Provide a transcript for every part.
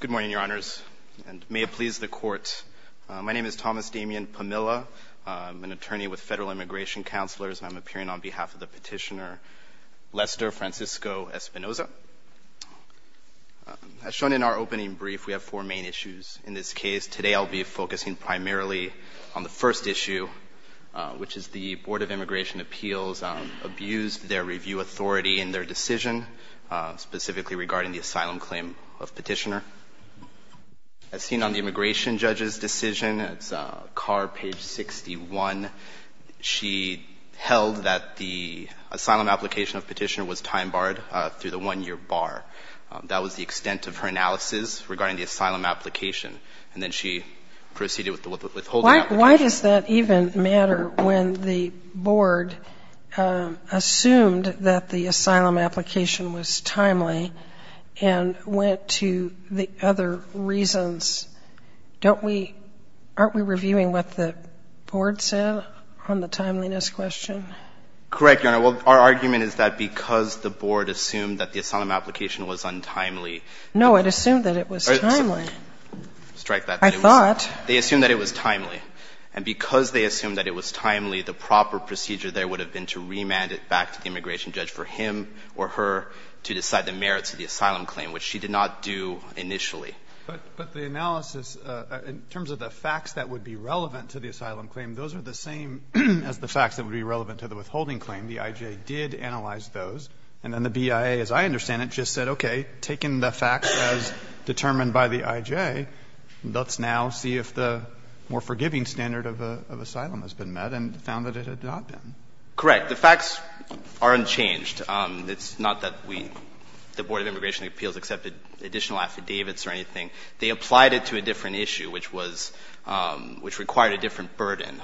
Good morning, Your Honors, and may it please the Court. My name is Thomas Damian Pamilla. I'm an attorney with Federal Immigration Counselors, and I'm appearing on behalf of the petitioner Lester Francisco Espinoza. As shown in our opening brief, we have four main issues in this case. Today I'll be focusing primarily on the first issue, which is the Board of Immigration Appeals abused their review authority in their decision, specifically regarding the asylum claim of petitioner. As seen on the immigration judge's decision, it's card page 61, she held that the asylum application of petitioner was time-barred through the one-year bar. That was the extent of her analysis regarding the asylum application, Why does that even matter when the board assumed that the asylum application was timely and went to the other reasons? Don't we – aren't we reviewing what the board said on the timeliness question? Correct, Your Honor. Well, our argument is that because the board assumed that the asylum application was untimely. No, it assumed that it was timely. Strike that. I thought. They assumed that it was timely. And because they assumed that it was timely, the proper procedure there would have been to remand it back to the immigration judge for him or her to decide the merits of the asylum claim, which she did not do initially. But the analysis, in terms of the facts that would be relevant to the asylum claim, those are the same as the facts that would be relevant to the withholding claim. The IJ did analyze those. And then the BIA, as I understand it, just said, okay, taking the facts as determined by the IJ, let's now see if the more forgiving standard of asylum has been met and found that it had not been. Correct. The facts are unchanged. It's not that we, the Board of Immigration and Appeals, accepted additional affidavits or anything. They applied it to a different issue, which was – which required a different burden.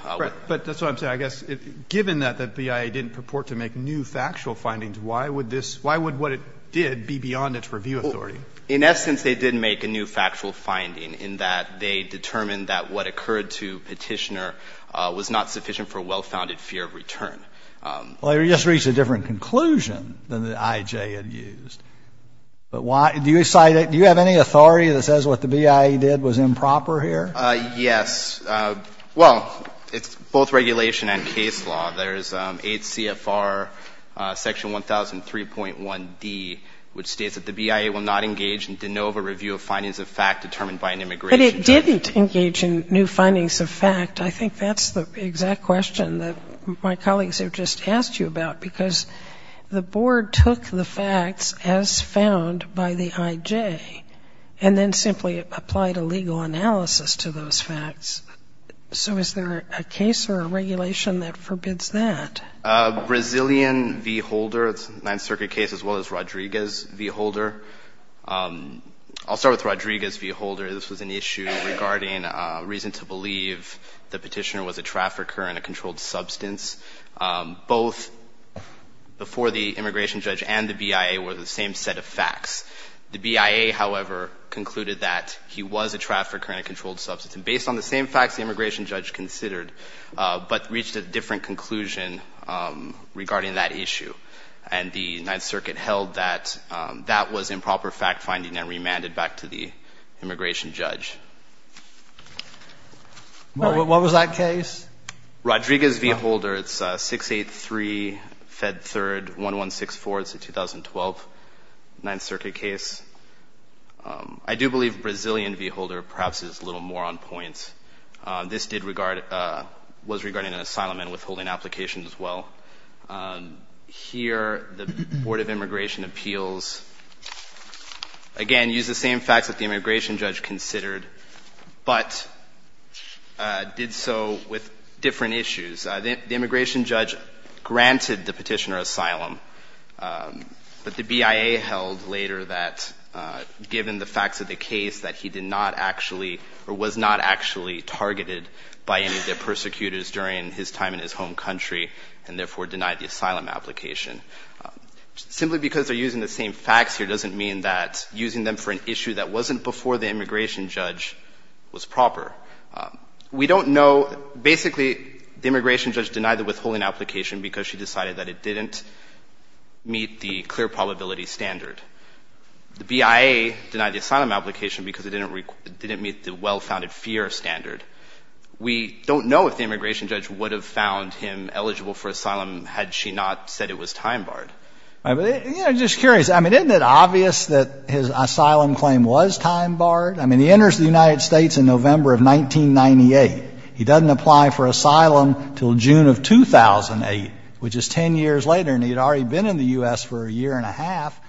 But that's what I'm saying. I guess, given that the BIA didn't purport to make new factual findings, why would this – why would what it did be beyond its review authority? In essence, they did make a new factual finding in that they determined that what occurred to Petitioner was not sufficient for a well-founded fear of return. Well, you just reached a different conclusion than the IJ had used. But why – do you cite – do you have any authority that says what the BIA did was improper here? Yes. Well, it's both regulation and case law. There's 8 CFR section 1003.1d, which states that the BIA will not engage in de novo review of findings of fact determined by an immigration judge. But it didn't engage in new findings of fact. I think that's the exact question that my colleagues have just asked you about, because the Board took the facts as found by the IJ and then simply applied a legal analysis to those facts. So is there a case or a regulation that forbids that? Brazilian v. Holder. It's a Ninth Circuit case as well as Rodriguez v. Holder. I'll start with Rodriguez v. Holder. This was an issue regarding reason to believe the Petitioner was a trafficker and a controlled substance. Both before the immigration judge and the BIA were the same set of facts. The BIA, however, concluded that he was a trafficker and a controlled substance. And based on the same facts the immigration judge considered, but reached a different conclusion regarding that issue. And the Ninth Circuit held that that was improper fact finding and remanded back to the immigration judge. What was that case? Rodriguez v. Holder. It's 683 Fed 3rd 1164. It's a 2012 Ninth Circuit case. I do believe Brazilian v. Holder perhaps is a little more on point. This was regarding an asylum and withholding application as well. Here the Board of Immigration Appeals, again, used the same facts that the immigration judge considered, but did so with different issues. The immigration judge granted the Petitioner asylum, but the BIA held later that given the facts of the case that he did not actually, or was not actually targeted by any of the persecutors during his time in his home country, and therefore denied the asylum application. Simply because they're using the same facts here doesn't mean that using them for an issue that wasn't before the immigration judge was proper. We don't know, basically the immigration judge denied the withholding application because she decided that it didn't meet the clear probability standard. The BIA denied the asylum application because it didn't meet the well-founded fear standard. We don't know if the immigration judge would have found him eligible for asylum had she not said it was time-barred. I'm just curious. I mean, isn't it obvious that his asylum claim was time-barred? I mean, he enters the United States in November of 1998. He doesn't apply for asylum until June of 2008, which is 10 years later, and he had already been in the U.S. for a year and a half,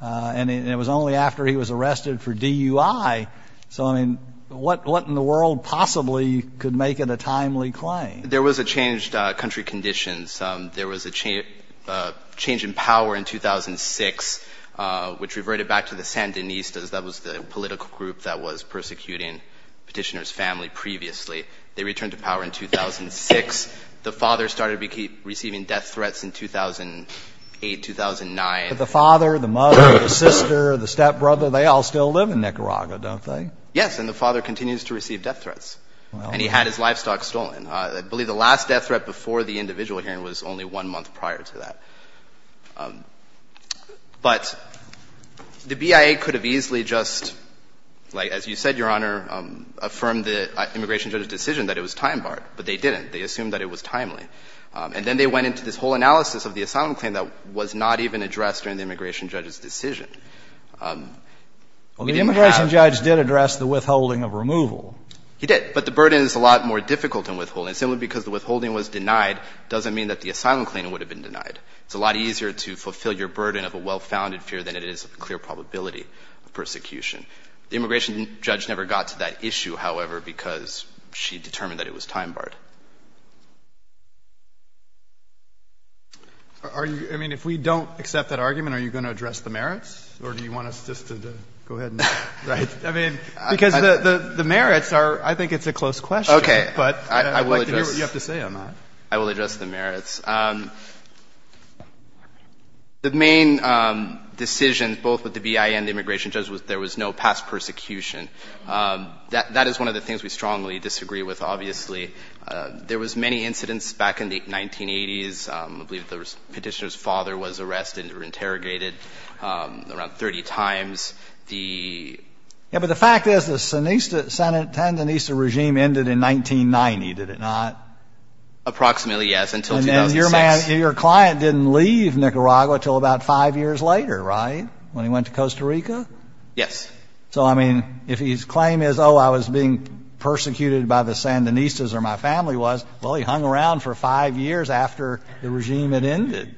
and it was only after he was arrested for DUI. So, I mean, what in the world possibly could make it a timely claim? There was a change in country conditions. There was a change in power in 2006, which reverted back to the Sandinistas. That was the political group that was persecuting Petitioner's family previously. They returned to power in 2006. The father started receiving death threats in 2008, 2009. The father, the mother, the sister, the stepbrother, they all still live in Nicaragua, don't they? Yes, and the father continues to receive death threats. And he had his livestock stolen. I believe the last death threat before the individual hearing was only one month prior to that. But the BIA could have easily just, like, as you said, Your Honor, affirmed the immigration judge's decision that it was time-barred, but they didn't. They assumed that it was timely. And then they went into this whole analysis of the asylum claim that was not even addressed during the immigration judge's decision. We didn't have to. Well, the immigration judge did address the withholding of removal. He did. But the burden is a lot more difficult than withholding. Simply because the withholding was denied doesn't mean that the asylum claim would have been denied. It's a lot easier to fulfill your burden of a well-founded fear than it is of a clear probability of persecution. The immigration judge never got to that issue, however, because she determined that it was time-barred. Are you – I mean, if we don't accept that argument, are you going to address the merits? Or do you want us just to go ahead and – right? I mean, because the merits are – I think it's a close question. Okay. But I'd like to hear what you have to say on that. I will address the merits. The main decision, both with the BIA and the immigration judge, was there was no past persecution. That is one of the things we strongly disagree with, obviously. There was many incidents back in the 1980s. I believe the Petitioner's father was arrested or interrogated around 30 times. The – Yeah. But the fact is, the San – the Sandinista regime ended in 1990, did it not? Approximately, yes, until 2006. And your man – your client didn't leave Nicaragua until about five years later, right, when he went to Costa Rica? Yes. So, I mean, if his claim is, oh, I was being persecuted by the Sandinistas or my family was, well, he hung around for five years after the regime had ended.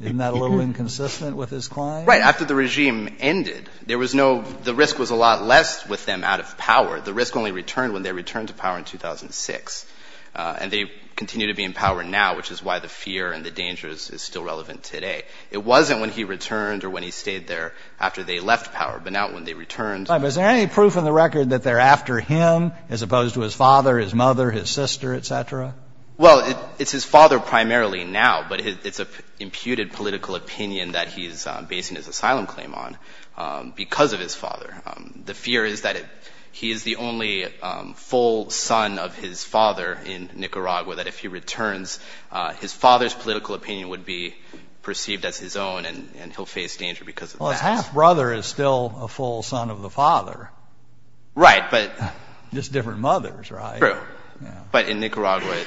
Isn't that a little inconsistent with his claim? Right. After the regime ended, there was no – the risk was a lot less with them out of power. The risk only returned when they returned to power in 2006. And they continue to be in power now, which is why the fear and the dangers is still relevant today. It wasn't when he returned or when he stayed there after they left power, but now when they returned – But is there any proof in the record that they're after him as opposed to his father, his mother, his sister, et cetera? Well, it's his father primarily now, but it's an imputed political opinion that he's basing his asylum claim on because of his father. The fear is that he is the only full son of his father in Nicaragua, that if he returns, his father's political opinion would be perceived as his own and he'll face danger because of that. Well, his half-brother is still a full son of the father. Right, but – Just different mothers, right? True. But in Nicaragua, it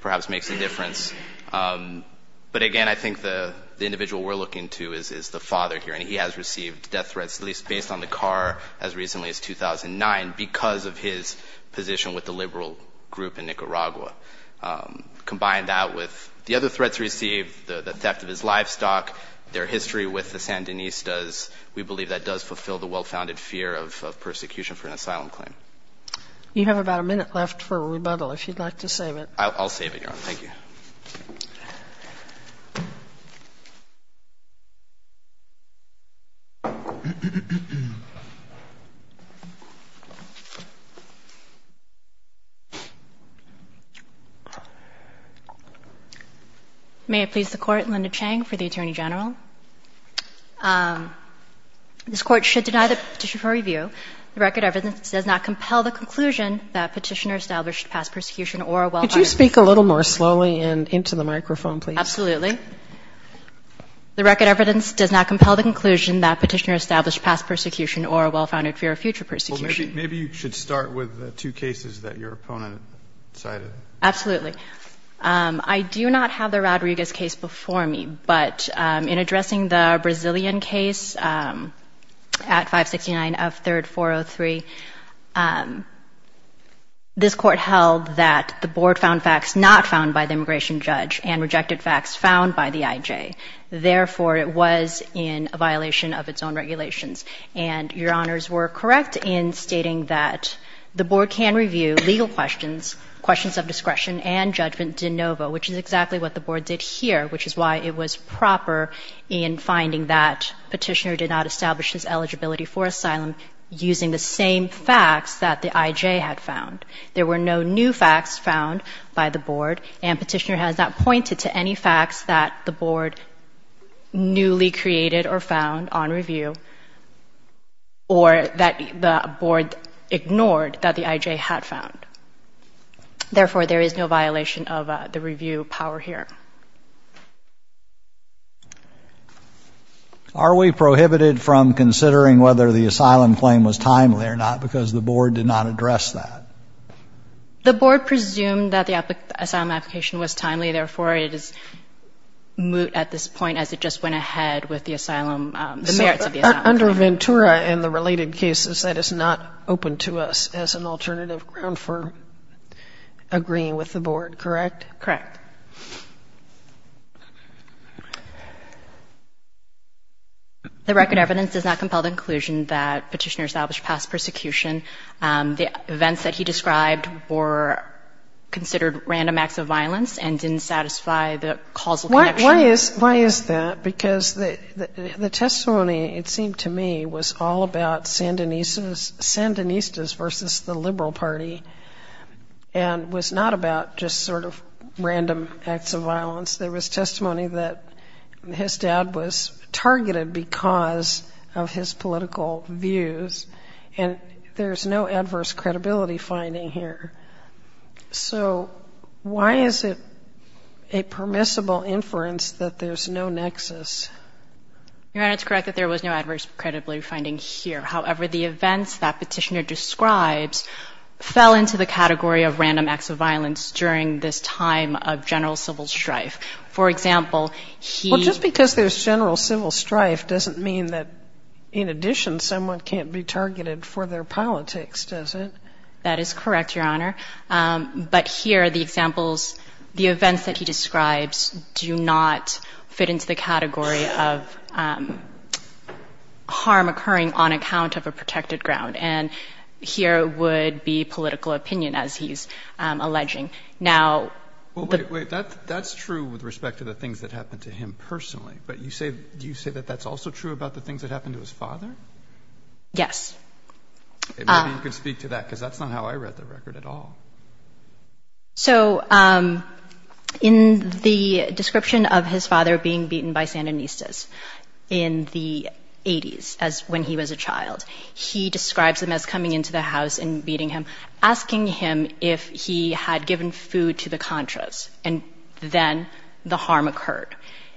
perhaps makes a difference. But again, I think the individual we're looking to is the father here, and he has as recently as 2009 because of his position with the liberal group in Nicaragua. Combine that with the other threats received, the theft of his livestock, their history with the Sandinistas, we believe that does fulfill the well-founded fear of persecution for an asylum claim. You have about a minute left for rebuttal, if you'd like to save it. I'll save it, Your Honor. Thank you. Thank you. May it please the Court, Linda Chang for the Attorney General. This Court should deny the petition for review. The record of evidence does not compel the conclusion that petitioner Could you speak a little more slowly and into the microphone, please? Absolutely. The record of evidence does not compel the conclusion that petitioner established past persecution or a well-founded fear of future persecution. Well, maybe you should start with the two cases that your opponent cited. Absolutely. I do not have the Rodriguez case before me, but in addressing the Brazilian case at 569 F. 3rd 403, this Court held that the Board found facts not found by the immigration judge and rejected facts found by the IJ. Therefore, it was in a violation of its own regulations. And Your Honors were correct in stating that the Board can review legal questions, questions of discretion and judgment de novo, which is exactly what the Board did here, which is why it was proper in finding that petitioner did not establish his eligibility for asylum using the same facts that the IJ had found. There were no new facts found by the Board, and petitioner has not pointed to any facts that the Board newly created or found on review or that the Board ignored that the IJ had found. Therefore, there is no violation of the review power here. Are we prohibited from considering whether the asylum claim was timely or not because the Board did not address that? The Board presumed that the asylum application was timely. Therefore, it is moot at this point as it just went ahead with the asylum, the merits of the asylum claim. Under Ventura and the related cases, that is not open to us as an alternative ground for agreeing with the Board, correct? Correct. The record evidence does not compel the conclusion that petitioner established past persecution. The events that he described were considered random acts of violence and didn't satisfy the causal connection. Why is that? Because the testimony, it seemed to me, was all about Sandinistas versus the Liberal Party and was not about just sort of random acts of violence. There was testimony that his dad was targeted because of his political views, and there's no adverse credibility finding here. So why is it a permissible inference that there's no nexus? Your Honor, it's correct that there was no adverse credibility finding here. However, the events that petitioner describes fell into the category of random acts of violence during this time of general civil strife. For example, he ---- Well, just because there's general civil strife doesn't mean that, in addition, someone can't be targeted for their politics, does it? That is correct, Your Honor. But here, the examples, the events that he describes do not fit into the category of harm occurring on account of a protected ground. And here would be political opinion, as he's alleging. Now, the ---- Well, wait, wait. That's true with respect to the things that happened to him personally, but you say that that's also true about the things that happened to his father? Yes. Maybe you could speak to that, because that's not how I read the record at all. So in the description of his father being beaten by Sandinistas in the 80s, as when he was a child, he describes them as coming into the house and beating him, asking him if he had given food to the contras, and then the harm occurred.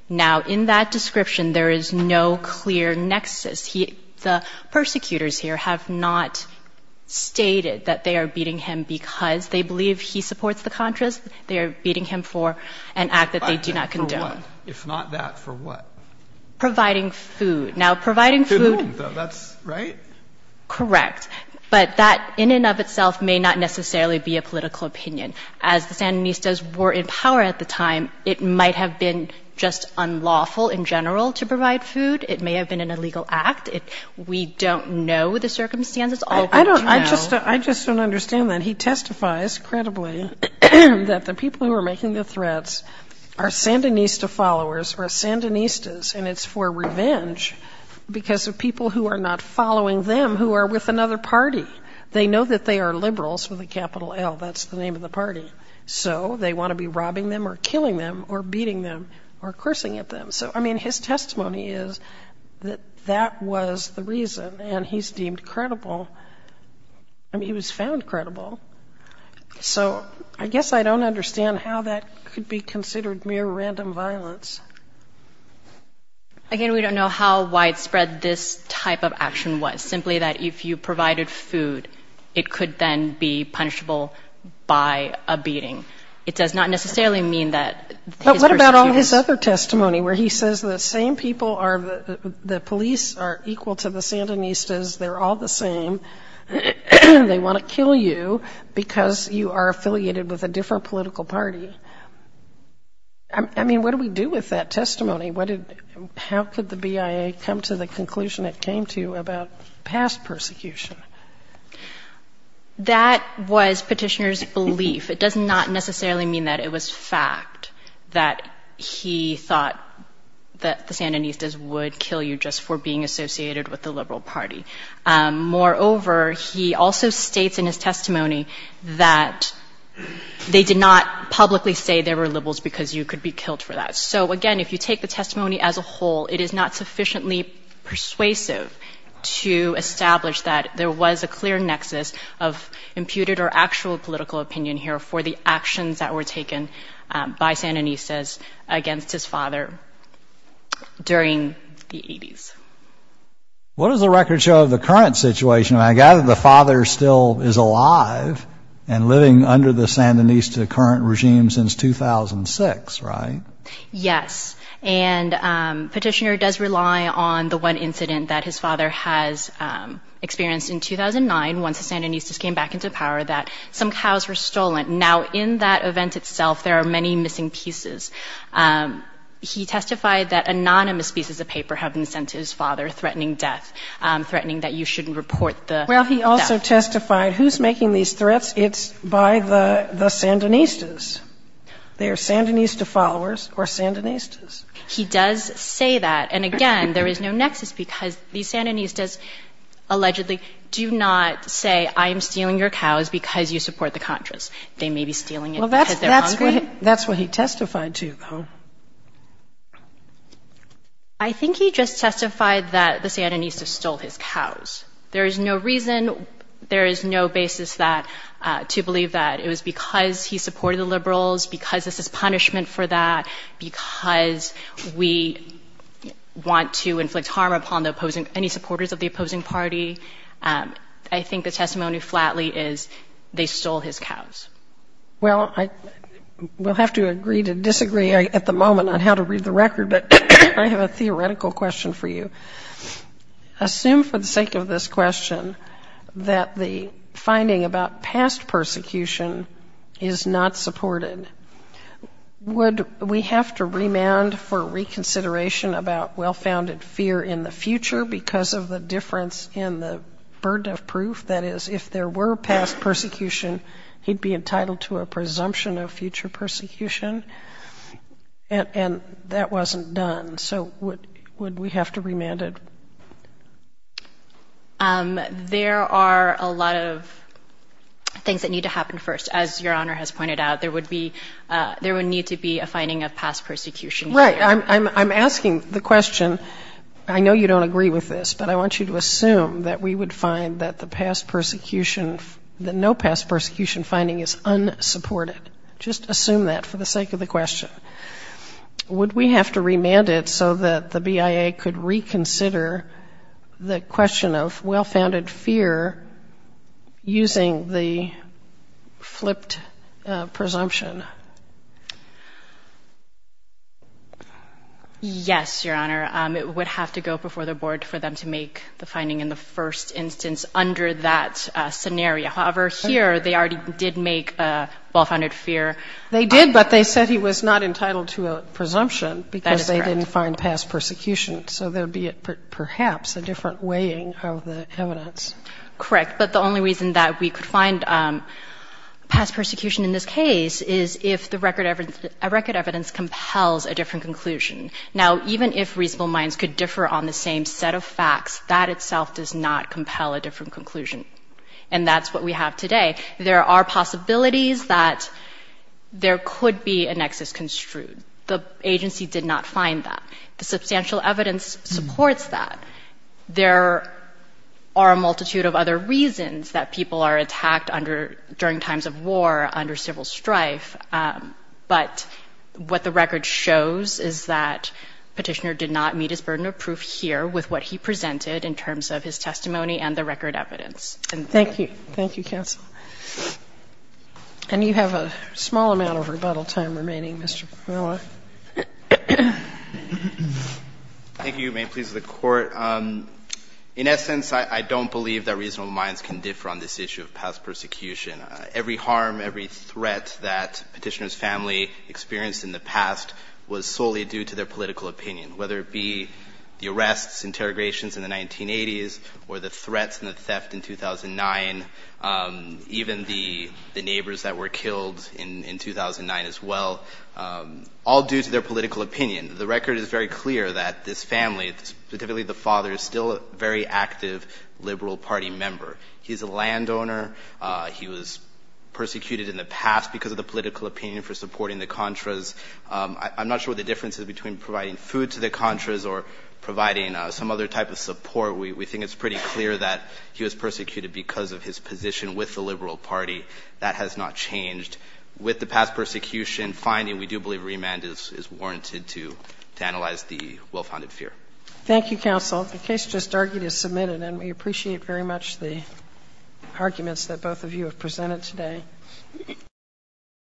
Now, in that description, there is no clear nexus. He ---- the persecutors here have not stated that they are beating him because they believe he supports the contras. They are beating him for an act that they do not condone. For what? If not that, for what? Providing food. Now, providing food ---- Food, that's right? Correct. But that in and of itself may not necessarily be a political opinion. As the Sandinistas were in power at the time, it might have been just unlawful in general to provide food. It may have been an illegal act. We don't know the circumstances. All we do know ---- I don't ---- I just don't understand that. He testifies credibly that the people who are making the threats are Sandinista followers or Sandinistas, and it's for revenge because of people who are not following them who are with another party. They know that they are liberals with a capital L. That's the name of the party. So they want to be robbing them or killing them or beating them or cursing at them. So, I mean, his testimony is that that was the reason, and he's deemed credible. I mean, he was found credible. So I guess I don't understand how that could be considered mere random violence. Again, we don't know how widespread this type of action was, simply that if you provided food, it could then be punishable by a beating. It does not necessarily mean that his ---- But what about all his other testimony where he says the same people are the police are equal to the Sandinistas, they're all the same, they want to kill you because you are affiliated with a different political party? I mean, what do we do with that testimony? What did ---- how could the BIA come to the conclusion it came to about past persecution? That was Petitioner's belief. It does not necessarily mean that it was fact that he thought that the Sandinistas would kill you just for being associated with the liberal party. Moreover, he also states in his testimony that they did not publicly say they were liberals because you could be killed for that. So, again, if you take the testimony as a whole, it is not sufficiently persuasive to establish that there was a clear nexus of imputed or actual political opinion here for the actions that were taken by Sandinistas against his father during the 80s. What does the record show of the current situation? I gather the father still is alive and living under the Sandinista current regime since 2006, right? Yes. And Petitioner does rely on the one incident that his father has experienced in 2009, once the Sandinistas came back into power, that some cows were stolen. Now, in that event itself, there are many missing pieces. He testified that anonymous pieces of paper have been sent to his father threatening death, threatening that you shouldn't report the death. Well, he also testified who's making these threats. It's by the Sandinistas. They are Sandinista followers or Sandinistas. He does say that. And again, there is no nexus because the Sandinistas allegedly do not say I am stealing your cows because you support the Contras. They may be stealing it because they're hungry. Well, that's what he testified to, though. I think he just testified that the Sandinistas stole his cows. There is no reason, there is no basis that to believe that it was because he supported the liberals, because this is punishment for that, because we want to inflict harm upon the opposing, any supporters of the opposing party. I think the testimony flatly is they stole his cows. Well, I will have to agree to disagree at the moment on how to read the record, but I have a theoretical question for you. Assume for the sake of this question that the finding about past persecution is not supported, would we have to remand for reconsideration about well-founded fear in the future because of the difference in the burden of proof? That is, if there were past persecution, he'd be entitled to a presumption of future persecution, and that wasn't done. So would we have to remand it? There are a lot of things that need to happen first. As Your Honor has pointed out, there would need to be a finding of past persecution. Right, I'm asking the question, I know you don't agree with this, but I want you to assume that we would find that no past persecution finding is unsupported. Just assume that for the sake of the question. Would we have to remand it so that the BIA could reconsider the question of well-founded fear using the flipped presumption? Yes, Your Honor, it would have to go before the board for them to make the finding in the first instance under that scenario. However, here they already did make well-founded fear. They did, but they said he was not entitled to a presumption because they didn't find past persecution in this case. Correct, but the only reason that we could find past persecution in this case is if the record evidence compels a different conclusion. Now, even if reasonable minds could differ on the same set of facts, that itself does not compel a different conclusion, and that's what we have today. There are possibilities that there could be a nexus construed. The agency did not find that. The substantial evidence supports that. There are a multitude of other reasons that people are attacked during times of war under civil strife, but what the record shows is that Petitioner did not meet his burden of proof here with what he presented in terms of his testimony and the record evidence. And thank you. Thank you, counsel. And you have a small amount of rebuttal time remaining, Mr. Parola. Thank you. May it please the Court. In essence, I don't believe that reasonable minds can differ on this issue of past persecution. Every harm, every threat that Petitioner's family experienced in the past was solely due to their political opinion, whether it be the arrests, interrogations in the 1980s, or the threats and the theft in 2009, even the neighbors that were killed in 2009 as well, all due to their political opinion. The record is very clear that this family, specifically the father, is still a very active Liberal Party member. He's a landowner. He was persecuted in the past because of the political opinion for supporting the Contras. I'm not sure what the difference is between providing food to the Contras or providing some other type of support. We think it's pretty clear that he was persecuted because of his position with the Liberal Party. That has not changed. With the past persecution finding, we do believe remand is warranted to analyze the well-founded fear. Thank you, counsel. The case just argued is submitted, and we appreciate very much the arguments that both of you have presented today.